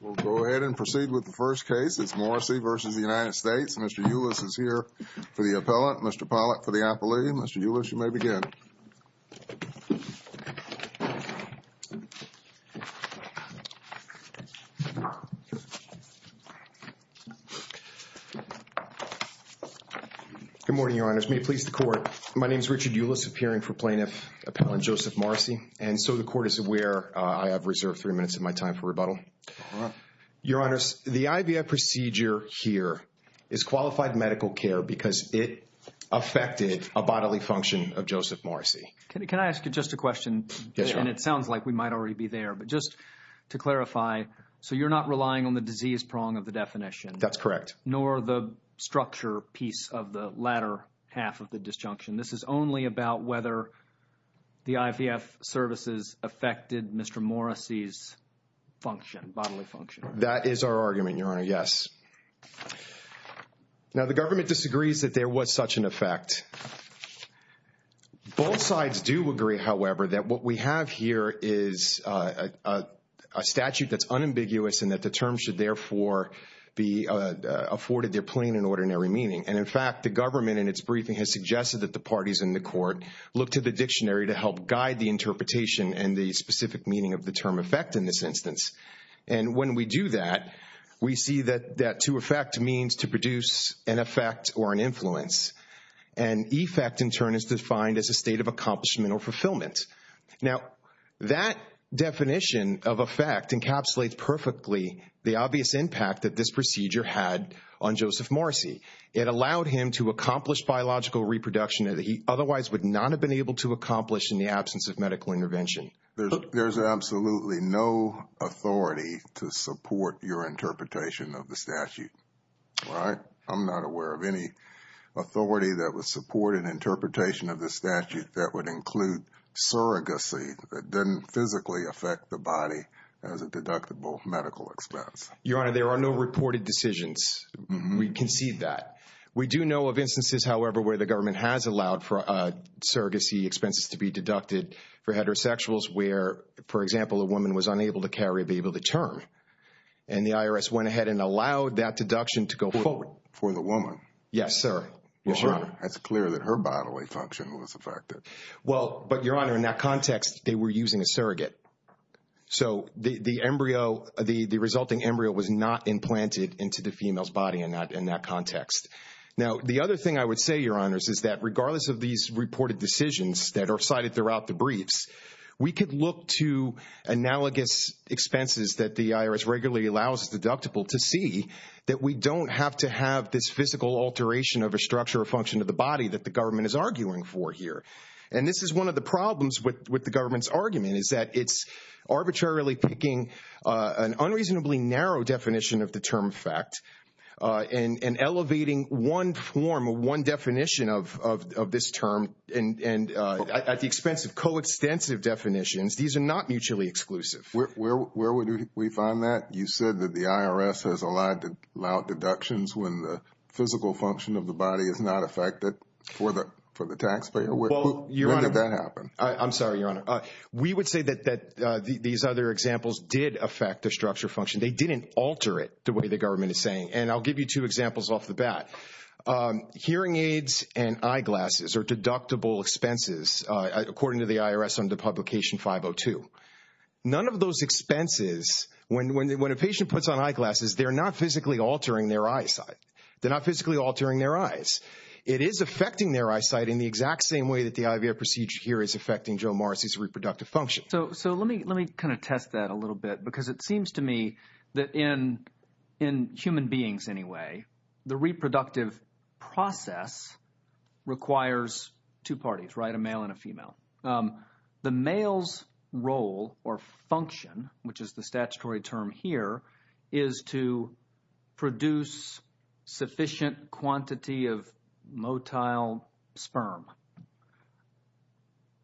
We'll go ahead and proceed with the first case. It's Morrissey versus the United States. Mr. Ulis is here for the appellate. Mr. Pollack for the appellee. Mr. Ulis, you may begin. Good morning, Your Honors. May it please the Court. My name is Richard Ulis, appearing for Plaintiff Appellant Joseph Morrissey. And so the Court is aware I have reserved three minutes of my time for rebuttal. Your Honors, the IVF procedure here is qualified medical care because it affected a bodily function of Joseph Morrissey. Can I ask you just a question? Yes, Your Honor. And it sounds like we might already be there. But just to clarify, so you're not relying on the disease prong of the definition? That's correct. Nor the structure piece of the latter half of the disjunction. This is only about whether the IVF services affected Mr. Morrissey's function, bodily function. That is our argument, Your Honor. Yes. Now, the government disagrees that there was such an effect. Both sides do agree, however, that what we have here is a statute that's unambiguous and that the terms should, therefore, be afforded their plain and ordinary meaning. And in fact, the government in its briefing has suggested that the parties in the Court look to the dictionary to help guide the interpretation and the specific meaning of the term effect in this instance. And when we do that, we see that to effect means to produce an effect or an influence. And effect, in turn, is defined as a state of accomplishment or fulfillment. Now, that definition of effect encapsulates perfectly the obvious impact that this procedure had on Joseph Morrissey. It allowed him to accomplish biological reproduction that he otherwise would not have been able to accomplish in the absence of medical intervention. There's absolutely no authority to support your interpretation of the statute, right? I'm not aware of any authority that would support an interpretation of the statute that would include surrogacy that didn't physically affect the body as a deductible medical expense. Your Honor, there are no reported decisions. We concede that. We do know of instances, however, where the government has allowed for surrogacy expenses to be deducted for heterosexuals, where, for example, a woman was unable to carry a baby with a term. And the IRS went ahead and allowed that deduction to go forward. For the woman? Yes, sir, Your Honor. That's clear that her bodily function was affected. Well, but Your Honor, in that context, they were using a surrogate. So the resulting embryo was not implanted into the female's body in that context. Now, the other thing I would say, Your Honors, is that regardless of these reported decisions that are cited throughout the briefs, we could look to analogous expenses that the IRS regularly allows as deductible to see that we don't have to have this physical alteration of a structure or function of the body that the government is arguing for here. And this is one of the problems with the government's argument is that it's arbitrarily picking an unreasonably narrow definition of the term fact and elevating one form or one definition of this term. And at the expense of coextensive definitions, these are not mutually exclusive. Where would we find that? You said that the IRS has allowed deductions when the physical function of the body is not affected for the taxpayer. When did that happen? I'm sorry, Your Honor. We would say that these other examples did affect the structure function. They didn't alter it the way the government is saying. And I'll give you two examples off the bat. Hearing aids and eyeglasses are deductible expenses, according to the IRS under Publication 502. None of those expenses, when a patient puts on eyeglasses, they're not physically altering their eyesight. They're not physically altering their eyes. It is affecting their eyesight in the exact same way that the IVF procedure here is affecting Joe Morris's reproductive function. So let me kind of test that a little bit, because it seems to me that in human beings, anyway, the reproductive process requires two parties, right? A male and a female. The male's role or function, which is the statutory term here, is to produce sufficient quantity of motile sperm.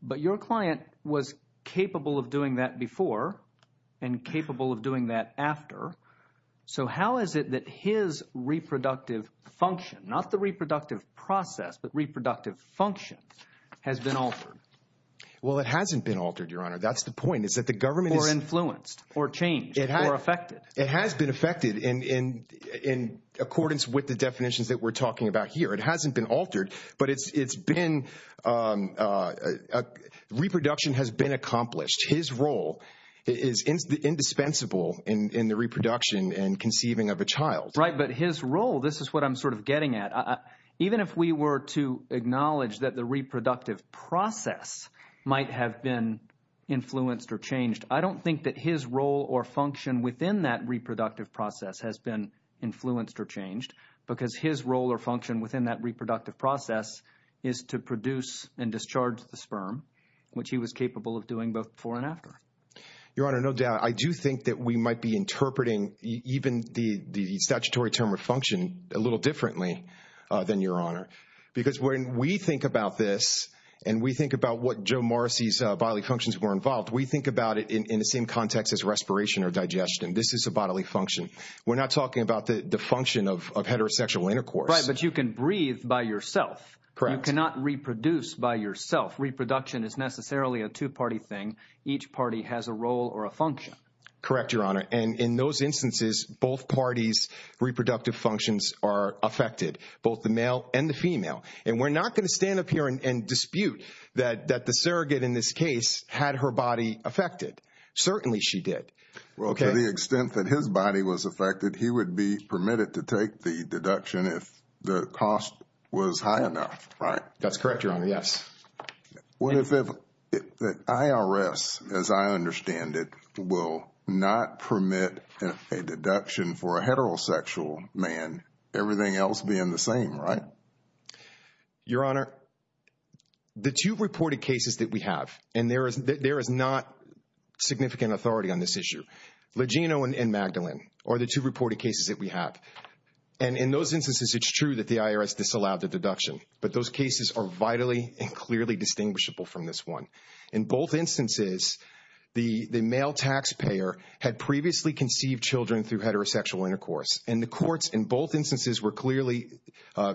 But your client was capable of doing that before and capable of doing that after. So how is it that his reproductive function, not the reproductive process, but reproductive function, has been altered? Well, it hasn't been altered, Your Honor. That's the point, is that the government is- Or influenced, or changed, or affected. It has been affected in accordance with the definitions that we're talking about here. It hasn't been altered, but it's been, reproduction has been accomplished. His role is indispensable in the reproduction and conceiving of a child. Right, but his role, this is what I'm sort of getting at. Even if we were to acknowledge that the reproductive process might have been influenced or changed, I don't think that his role or function within that reproductive process has been influenced or changed, because his role or function within that reproductive process is to produce and discharge the sperm, which he was capable of doing both before and after. Your Honor, no doubt, I do think that we might be interpreting even the statutory term of function a little differently than Your Honor, because when we think about this and we think about what Joe Morrissey's bodily functions were involved, we think about it in the same context as respiration or digestion. This is a bodily function. We're not talking about the function of heterosexual intercourse. Right, but you can breathe by yourself. Correct. You cannot reproduce by yourself. Reproduction is necessarily a two-party thing. Each party has a role or a function. Correct, Your Honor, and in those instances, both parties' reproductive functions are affected, both the male and the female. And we're not going to stand up here and dispute that the surrogate in this case had her body affected. Certainly she did. Well, to the extent that his body was affected, he would be permitted to take the deduction if the cost was high enough, right? That's correct, Your Honor, yes. What if the IRS, as I understand it, will not permit a deduction for a heterosexual man, everything else being the same, right? Your Honor, the two reported cases that we have, and there is not significant authority on this issue, Legino and Magdalene are the two reported cases that we have. And in those instances, it's true that the IRS disallowed the deduction, but those cases are vitally and clearly distinguishable from this one. In both instances, the male taxpayer had previously conceived children through heterosexual intercourse, and the courts in both instances were clearly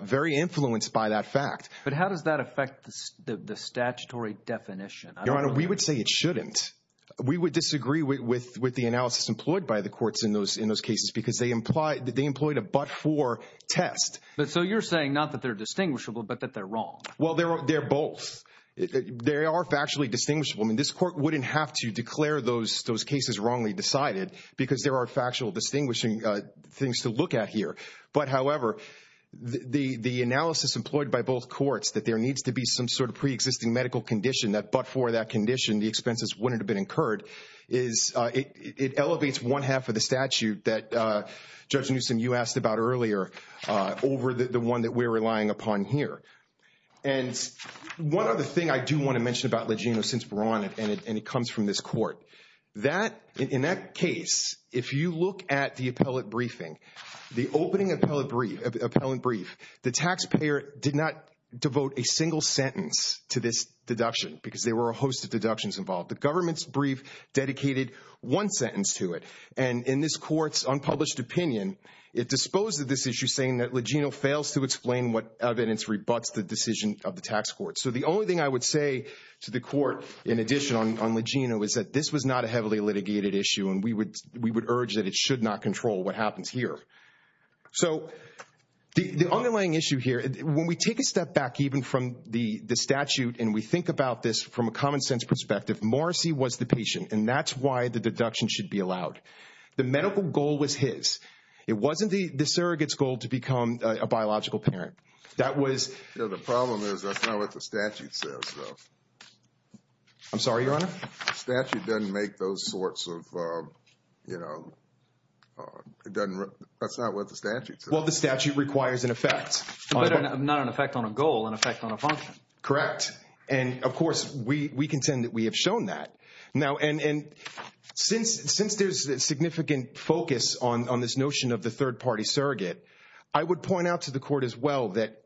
very influenced by that fact. But how does that affect the statutory definition? Your Honor, we would say it shouldn't. We would disagree with the analysis employed by the courts in those cases, because they employed a but-for test. So you're saying not that they're distinguishable, but that they're wrong. Well, they're both. They are factually distinguishable. This court wouldn't have to declare those cases wrongly decided, because there are factual distinguishing things to look at here. But however, the analysis employed by both courts, that there needs to be some sort of pre-existing medical condition, that but-for that condition, the expenses wouldn't have been incurred, is it elevates one half of the statute that Judge Newsom, you asked about earlier, over the one that we're relying upon here. And one other thing I do want to mention about Legino since we're on it, and it comes from this court, that, in that case, if you look at the appellate briefing, the opening appellate brief, the taxpayer did not devote a single sentence to this deduction, because there were a host of deductions involved. The government's brief dedicated one sentence to it. And in this court's unpublished opinion, it disposed of this issue, saying that Legino fails to explain what evidence rebuts the decision of the tax court. So the only thing I would say to the court, in addition on Legino, is that this was not a heavily litigated issue, and we would urge that it should not control what happens here. So the underlying issue here, when we take a step back, even from the statute, and we think about this from a common sense perspective, Morrissey was the patient, and that's why the deduction should be allowed. The medical goal was his. It wasn't the surrogate's goal to become a biological parent. That was. The problem is, that's not what the statute says, though. I'm sorry, Your Honor? The statute doesn't make those sorts of, you know, it doesn't, that's not what the statute says. Well, the statute requires an effect. Not an effect on a goal, an effect on a function. Correct. And, of course, we contend that we have shown that. Now, and since there's significant focus on this notion of the third party surrogate, I would point out to the court as well that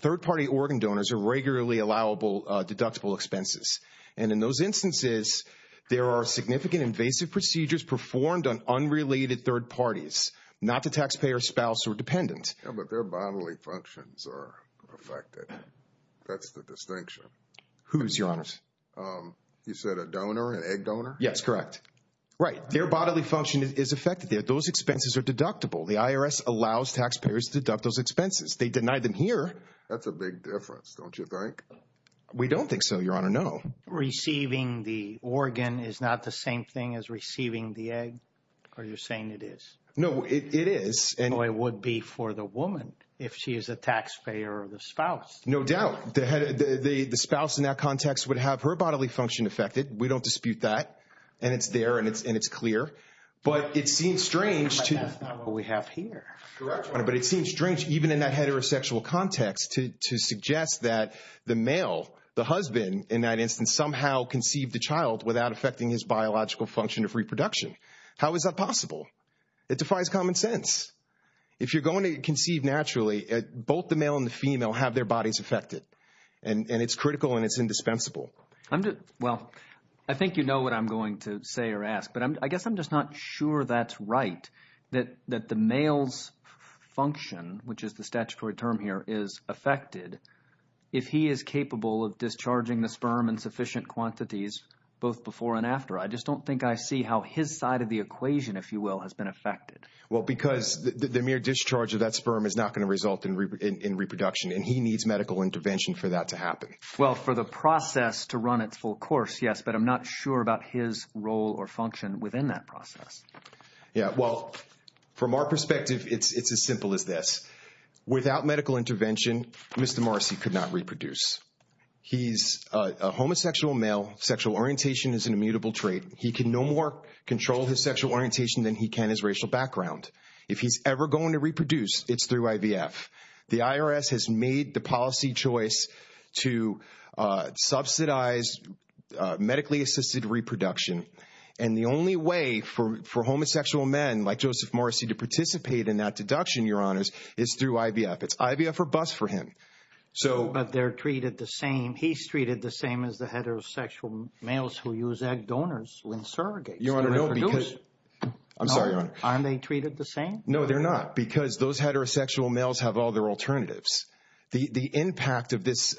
third party organ donors are regularly allowable deductible expenses. And in those instances, there are significant invasive procedures performed on unrelated third parties, not the taxpayer, spouse, or dependent. But their bodily functions are affected. That's the distinction. Whose, Your Honors? You said a donor, an egg donor? Yes, correct. Right, their bodily function is affected. Those expenses are deductible. The IRS allows taxpayers to deduct those expenses. They deny them here. That's a big difference, don't you think? We don't think so, Your Honor, no. Receiving the organ is not the same thing as receiving the egg? Or you're saying it is? No, it is. Well, it would be for the woman, if she is a taxpayer or the spouse. No doubt. The spouse, in that context, would have her bodily function affected. We don't dispute that. And it's there, and it's clear. But it seems strange to you. But that's not what we have here, Your Honor. But it seems strange, even in that heterosexual context, to suggest that the male, the husband, in that instance, somehow conceived the child without affecting his biological function of reproduction. How is that possible? It defies common sense. If you're going to conceive naturally, both the male and the female have their bodies affected. And it's critical, and it's indispensable. Well, I think you know what I'm going to say or ask. But I guess I'm just not sure that's right, that the male's function, which is the statutory term here, is affected if he is capable of discharging the sperm in sufficient quantities, both before and after. I just don't think I see how his side of the equation, if you will, has been affected. Well, because the mere discharge of that sperm is not going to result in reproduction. And he needs medical intervention for that to happen. Well, for the process to run its full course, yes. But I'm not sure about his role or function within that process. Yeah, well, from our perspective, it's as simple as this. Without medical intervention, Mr. Marcy could not reproduce. He's a homosexual male. Sexual orientation is an immutable trait. He can no more control his sexual orientation than he can his racial background. If he's ever going to reproduce, it's through IVF. The IRS has made the policy choice to subsidize medically-assisted reproduction. And the only way for homosexual men, like Joseph Marcy, to participate in that deduction, Your Honors, is through IVF. It's IVF or BUS for him. But they're treated the same. He's treated the same as the heterosexual males who use egg donors when surrogates reproduce. Your Honor, no, because I'm sorry, Your Honor. Aren't they treated the same? No, they're not, because those heterosexual males have all their alternatives. The impact of this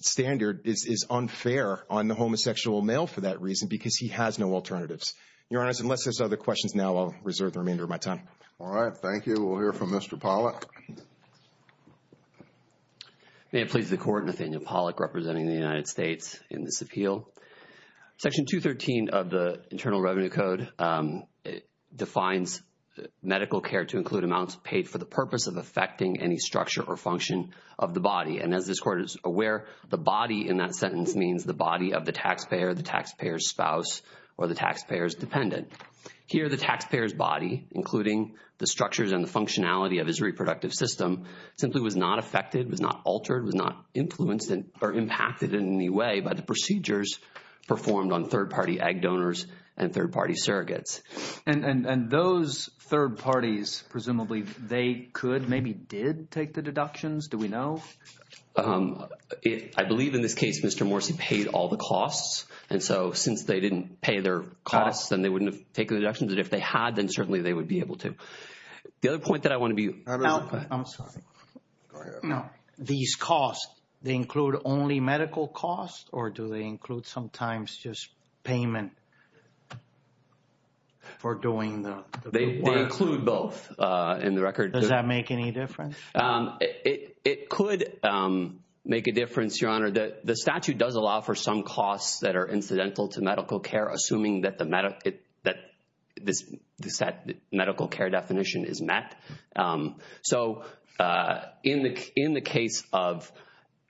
standard is unfair on the homosexual male for that reason, because he has no alternatives. Your Honors, unless there's other questions now, I'll reserve the remainder of my time. All right, thank you. We'll hear from Mr. Pollack. May it please the Court, Nathaniel Pollack representing the United States in this appeal. Section 213 of the Internal Revenue Code defines medical care to include amounts paid for the purpose of affecting any structure or function of the body. And as this Court is aware, the body in that sentence means the body of the taxpayer, the taxpayer's spouse, or the taxpayer's dependent. Here, the taxpayer's body, including the structures and the functionality of his reproductive system, simply was not affected, was not altered, was not influenced or impacted in any way by the procedures performed on third-party egg donors and third-party surrogates. And those third parties, presumably, they could, maybe did, take the deductions? Do we know? I believe in this case, Mr. Morsi paid all the costs. And so, since they didn't pay their costs, then they wouldn't have taken the deductions. And if they had, then certainly they would be able to. The other point that I want to be- I'm sorry. No. These costs, they include only medical costs, or do they include sometimes just payment for doing the- They include both in the record. Does that make any difference? It could make a difference, Your Honor. The statute does allow for some costs that are incidental to medical care, assuming that this medical care definition is met. So, in the case of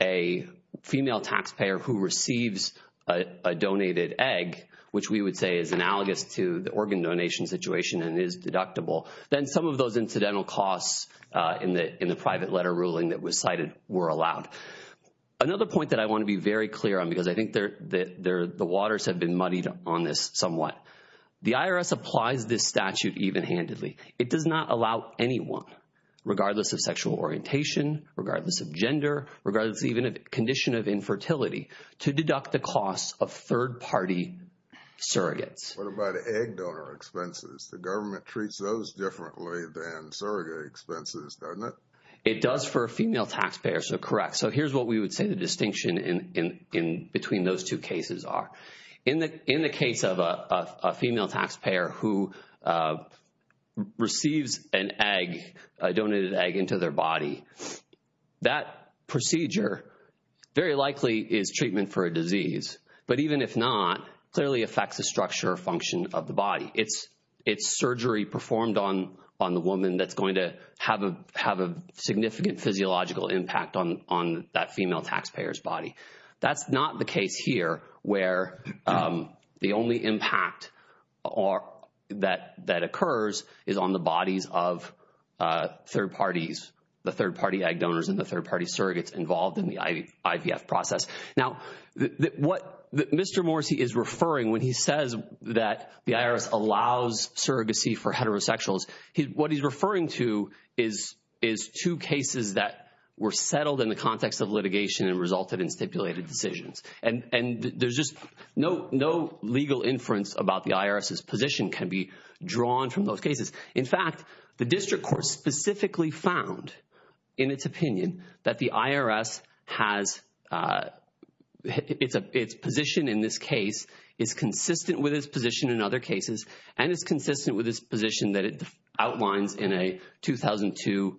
a female taxpayer who receives a donated egg, which we would say is analogous to the organ donation situation and is deductible, then some of those incidental costs in the private letter ruling that was cited were allowed. Another point that I want to be very clear on, because I think the waters have been muddied on this somewhat. The IRS applies this statute even-handedly. It does not allow anyone, regardless of sexual orientation, regardless of gender, regardless of even a condition of infertility, to deduct the costs of third-party surrogates. What about egg donor expenses? The government treats those differently than surrogate expenses, doesn't it? It does for a female taxpayer, so correct. So, here's what we would say the distinction in between those two cases are. In the case of a female taxpayer who receives an egg, a donated egg, into their body, that procedure very likely is treatment for a disease, but even if not, clearly affects the structure or function of the body. It's surgery performed on the woman that's going to have a significant physiological impact on that female taxpayer's body. That's not the case here, where the only impact that occurs is on the bodies of third parties, the third-party egg donors and the third-party surrogates involved in the IVF process. Now, what Mr. Morrisey is referring when he says that the IRS allows surrogacy for heterosexuals, what he's referring to is two cases that were settled in the context of litigation and resulted in stipulated decisions. And there's just no legal inference about the IRS's position can be drawn from those cases. In fact, the district court specifically found, in its opinion, that the IRS has, its position in this case is consistent with its position in other cases, and it's consistent with its position that it outlines in a 2002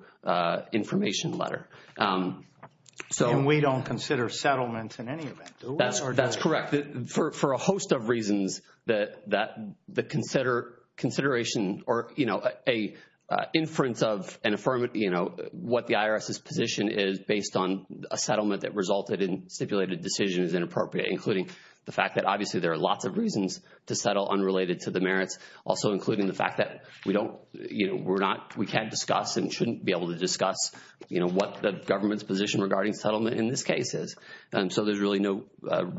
information letter. So- And we don't consider settlements in any event, do we? That's correct, for a host of reasons that the consideration or a inference of an affirmative, what the IRS's position is based on a settlement that resulted in stipulated decisions is inappropriate, including the fact that obviously there are lots of reasons to settle unrelated to the merits, also including the fact that we can't discuss and shouldn't be able to discuss what the government's position regarding settlement in this case is. And so there's really no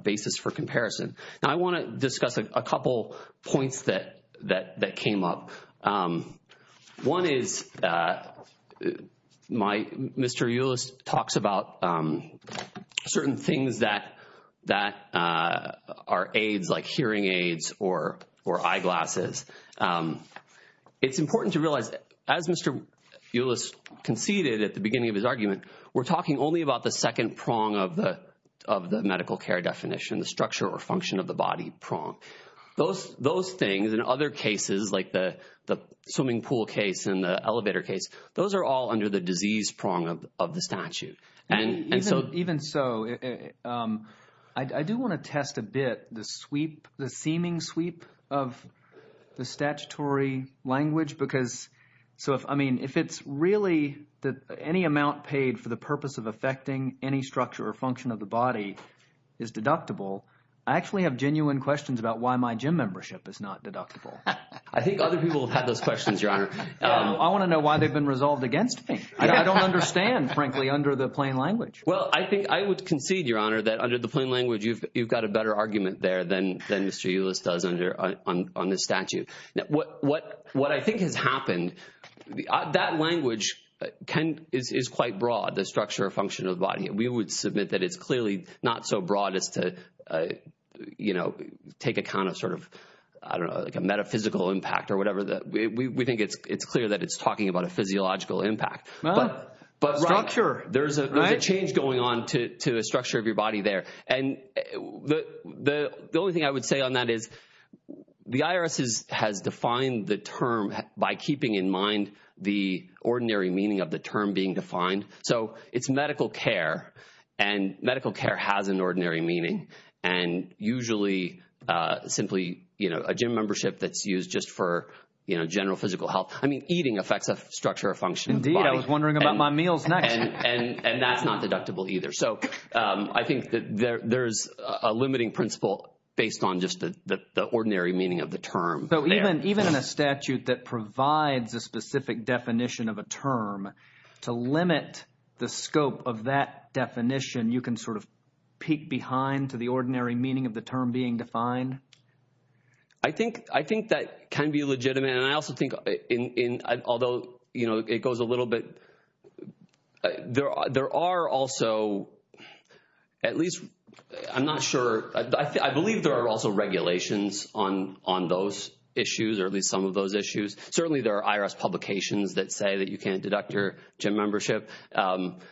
basis for comparison. Now, I want to discuss a couple points that came up. One is, Mr. Ulus talks about certain things that are aids, like hearing aids or eyeglasses. It's important to realize, as Mr. Ulus conceded at the beginning of his argument, we're talking only about the second prong of the medical care definition, the structure or function of the body prong. Those things, in other cases, like the swimming pool case and the elevator case, those are all under the disease prong of the statute. And so- Even so, I do want to test a bit the sweep, the seeming sweep of the statutory language, because, so if, I mean, if it's really that any amount paid for the purpose of affecting any structure or function of the body is deductible, I actually have genuine questions about why my gym membership is not deductible. I think other people have had those questions, Your Honor. I want to know why they've been resolved against me. I don't understand, frankly, under the plain language. Well, I think I would concede, Your Honor, that under the plain language, you've got a better argument there than Mr. Ulus does on this statute. that language is quite broad, the structure or function of the body. We would submit that it's clearly not so broad as to take account of sort of, I don't know, like a metaphysical impact or whatever, that we think it's clear that it's talking about a physiological impact. Well, structure, right? There's a change going on to the structure of your body there. And the only thing I would say on that is the IRS has defined the term by keeping in mind the ordinary meaning of the term being defined. So it's medical care, and medical care has an ordinary meaning. And usually, simply a gym membership that's used just for general physical health. I mean, eating affects the structure or function of the body. Indeed, I was wondering about my meals next. And that's not deductible either. So I think that there's a limiting principle based on just the ordinary meaning of the term. So even in a statute that provides a specific definition of a term, to limit the scope of that definition, you can sort of peek behind to the ordinary meaning of the term being defined? I think that can be legitimate. And I also think, although it goes a little bit, there are also, at least, I'm not sure. I believe there are also regulations on those issues, or at least some of those issues. Certainly, there are IRS publications that say that you can't deduct your gym membership.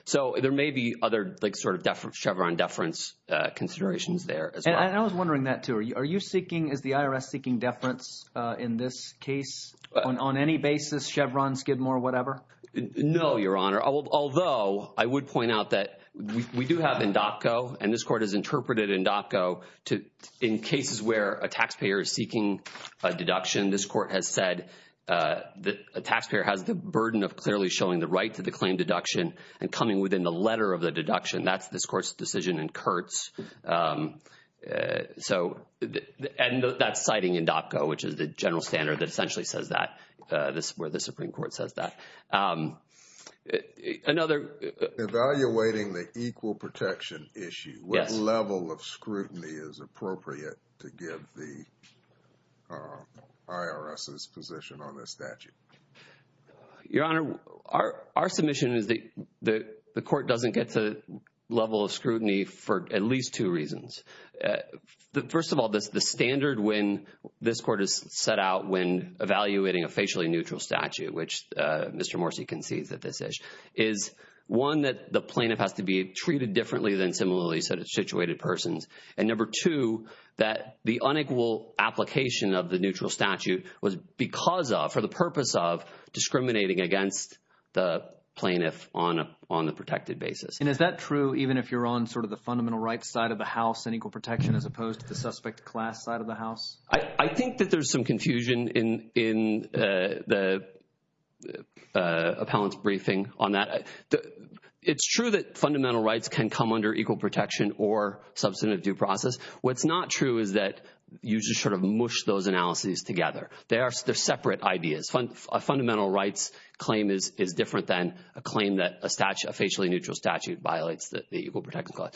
So there may be other sort of Chevron deference considerations there as well. And I was wondering that too. Are you seeking, is the IRS seeking deference in this case? On any basis, Chevron, Skidmore, whatever? No, Your Honor. Although, I would point out that we do have in DOTCO, and this court has interpreted in DOTCO, in cases where a taxpayer is seeking a deduction, this court has said that a taxpayer has the burden of clearly showing the right to the claim deduction and coming within the letter of the deduction. That's this court's decision in Kurtz. So, and that's citing in DOTCO, which is the general standard that essentially says that, where the Supreme Court says that. Another- Evaluating the equal protection issue. Yes. What level of scrutiny is appropriate to give the IRS's position on this statute? Your Honor, our submission is that the court doesn't get to the level of scrutiny for at least two reasons. First of all, the standard when this court has set out when evaluating a facially neutral statute, which Mr. Morse concedes that this is, is one, that the plaintiff has to be treated differently than similarly situated persons. And number two, that the unequal application of the neutral statute was because of, for the purpose of discriminating against the plaintiff on a protected basis. And is that true even if you're on sort of the fundamental rights side of the house and equal protection as opposed to the suspect class side of the house? I think that there's some confusion in the appellant's briefing on that. It's true that fundamental rights can come under equal protection or substantive due process. What's not true is that you just sort of mush those analyses together. They're separate ideas. A fundamental rights claim is different than a claim that a facially neutral statute violates the equal protection clause.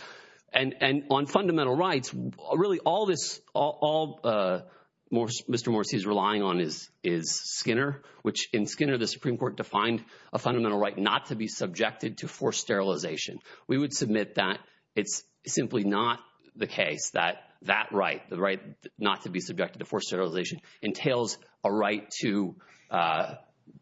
And on fundamental rights, really all this, all Mr. Morse is relying on is Skinner, which in Skinner, the Supreme Court defined a fundamental right not to be subjected to forced sterilization. We would submit that it's simply not the case that that right, the right not to be subjected to forced sterilization entails a right to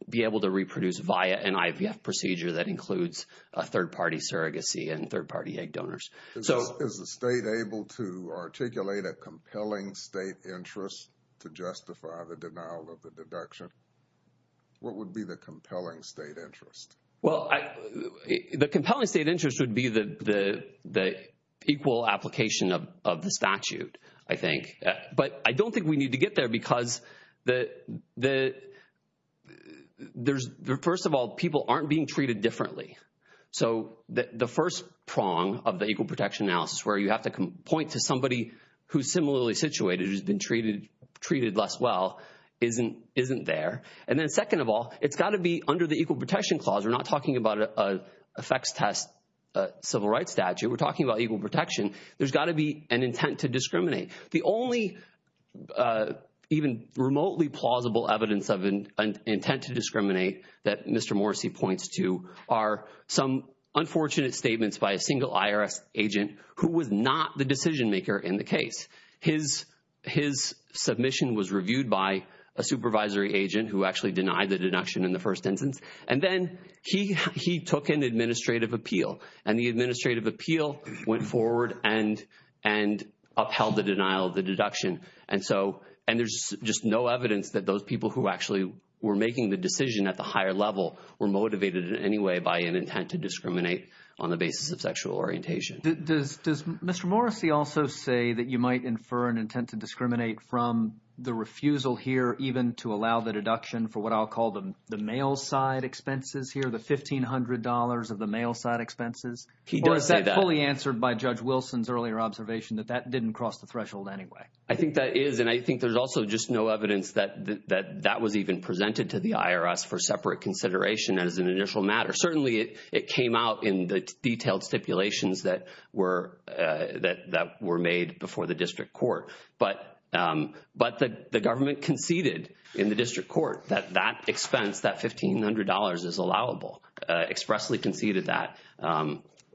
be able to reproduce via an IVF procedure that includes a third party surrogacy and third party egg donors. Is the state able to articulate a compelling state interest to justify the denial of the deduction? What would be the compelling state interest? Well, the compelling state interest would be the equal application of the statute, I think. But I don't think we need to get there because first of all, people aren't being treated differently. So the first prong of the equal protection analysis where you have to point to somebody who's similarly situated, who's been treated less well, isn't there. And then second of all, it's gotta be under the equal protection clause, we're not talking about a effects test civil rights statute, we're talking about equal protection, there's gotta be an intent to discriminate. The only even remotely plausible evidence of an intent to discriminate that Mr. Morrissey points to are some unfortunate statements by a single IRS agent who was not the decision maker in the case. His submission was reviewed by a supervisory agent who actually denied the deduction in the first instance. And then he took an administrative appeal. And the administrative appeal went forward and upheld the denial of the deduction. And there's just no evidence that those people who actually were making the decision at the higher level were motivated in any way by an intent to discriminate on the basis of sexual orientation. Does Mr. Morrissey also say that you might infer an intent to discriminate from the refusal here even to allow the deduction for what I'll call the mail side expenses here, the $1,500 of the mail side expenses? Or is that fully answered by Judge Wilson's earlier observation that that didn't cross the threshold anyway? I think that is, and I think there's also just no evidence that that was even presented to the IRS for separate consideration as an initial matter. Certainly it came out in the detailed stipulations that were made before the district court. But the government conceded in the district court that that expense, that $1,500 is allowable, expressly conceded that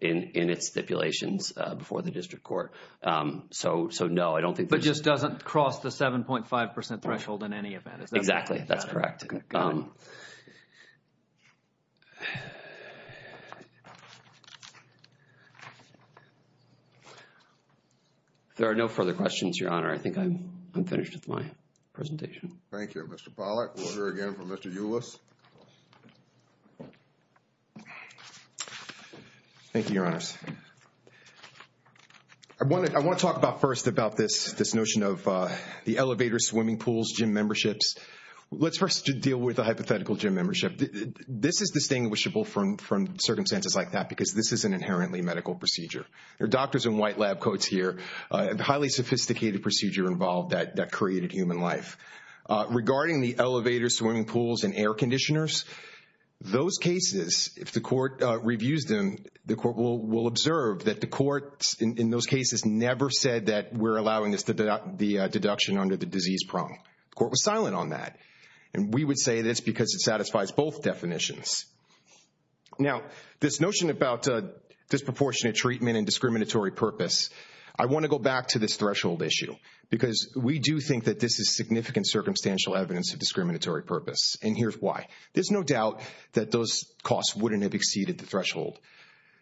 in its stipulations before the district court. So no, I don't think there's. But just doesn't cross the 7.5% threshold in any event. Exactly, that's correct. Thank you, Mr. Pollack. There are no further questions, Your Honor. I think I'm finished with my presentation. Thank you, Mr. Pollack. Order again from Mr. Ulus. Thank you, Your Honors. I want to talk about first about this notion of the elevator swimming pools, gym memberships. Let's first deal with the hypothetical gym membership. This is distinguishable from circumstances like that, because this is an inherently medical procedure. There are doctors in white lab coats here. Highly sophisticated procedure involved that created human life. Regarding the elevator swimming pools and air conditioners, those cases, if the court reviews them, the court will observe that the courts in those cases never said that we're allowing the deduction under the disease prong. Court was silent on that. And we would say this because it satisfies both definitions. Now, this notion about disproportionate treatment and discriminatory purpose, I want to go back to this threshold issue, because we do think that this is significant circumstantial evidence of discriminatory purpose. And here's why. There's no doubt that those costs wouldn't have exceeded the threshold.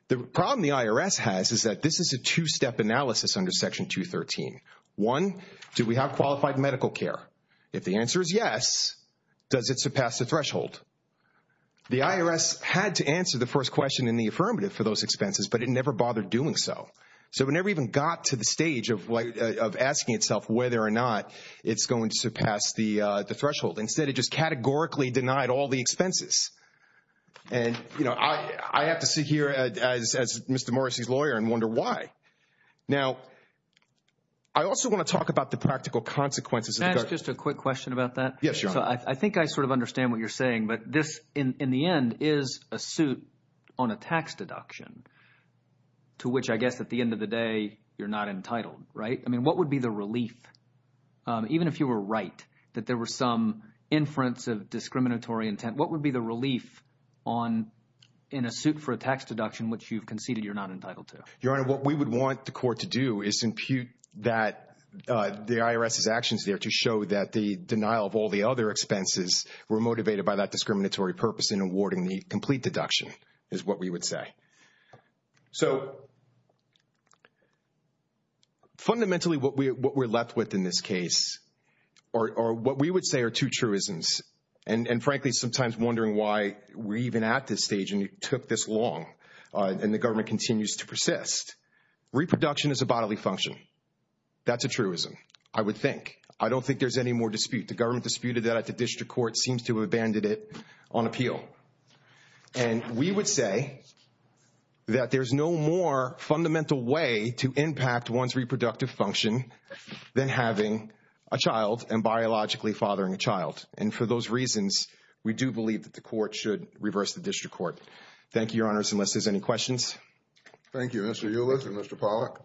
The problem the IRS has is that this is a two-step analysis under Section 213. One, do we have qualified medical care? If the answer is yes, does it surpass the threshold? The IRS had to answer the first question in the affirmative for those expenses, but it never bothered doing so. So it never even got to the stage of asking itself whether or not it's going to surpass the threshold. Instead, it just categorically denied all the expenses. And I have to sit here as Mr. Morrissey's lawyer and wonder why. Now, I also want to talk about the practical consequences. Can I ask just a quick question about that? Yes, Your Honor. I think I sort of understand what you're saying. But this, in the end, is a suit on a tax deduction, to which I guess at the end of the day, you're not entitled, right? I mean, what would be the relief, even if you were right, that there were some inference of discriminatory intent? What would be the relief in a suit for a tax deduction which you've conceded you're not entitled to? Your Honor, what we would want the court to do is impute that the IRS's actions there to show that the denial of all the other expenses were motivated by that discriminatory purpose in awarding the complete deduction, is what we would say. So fundamentally, what we're left with in this case, or what we would say are two truisms, and frankly, sometimes wondering why we're even at this stage and it took this long, and the government continues to persist. Reproduction is a bodily function. That's a truism, I would think. I don't think there's any more dispute. The government disputed that at the district court, seems to have abandoned it on appeal. And we would say that there's no more fundamental way to impact one's reproductive function than having a child and biologically fathering a child. And for those reasons, we do believe that the court should reverse the district court. Thank you, your honors, unless there's any questions. Thank you, Mr. Hewlett and Mr. Pollack.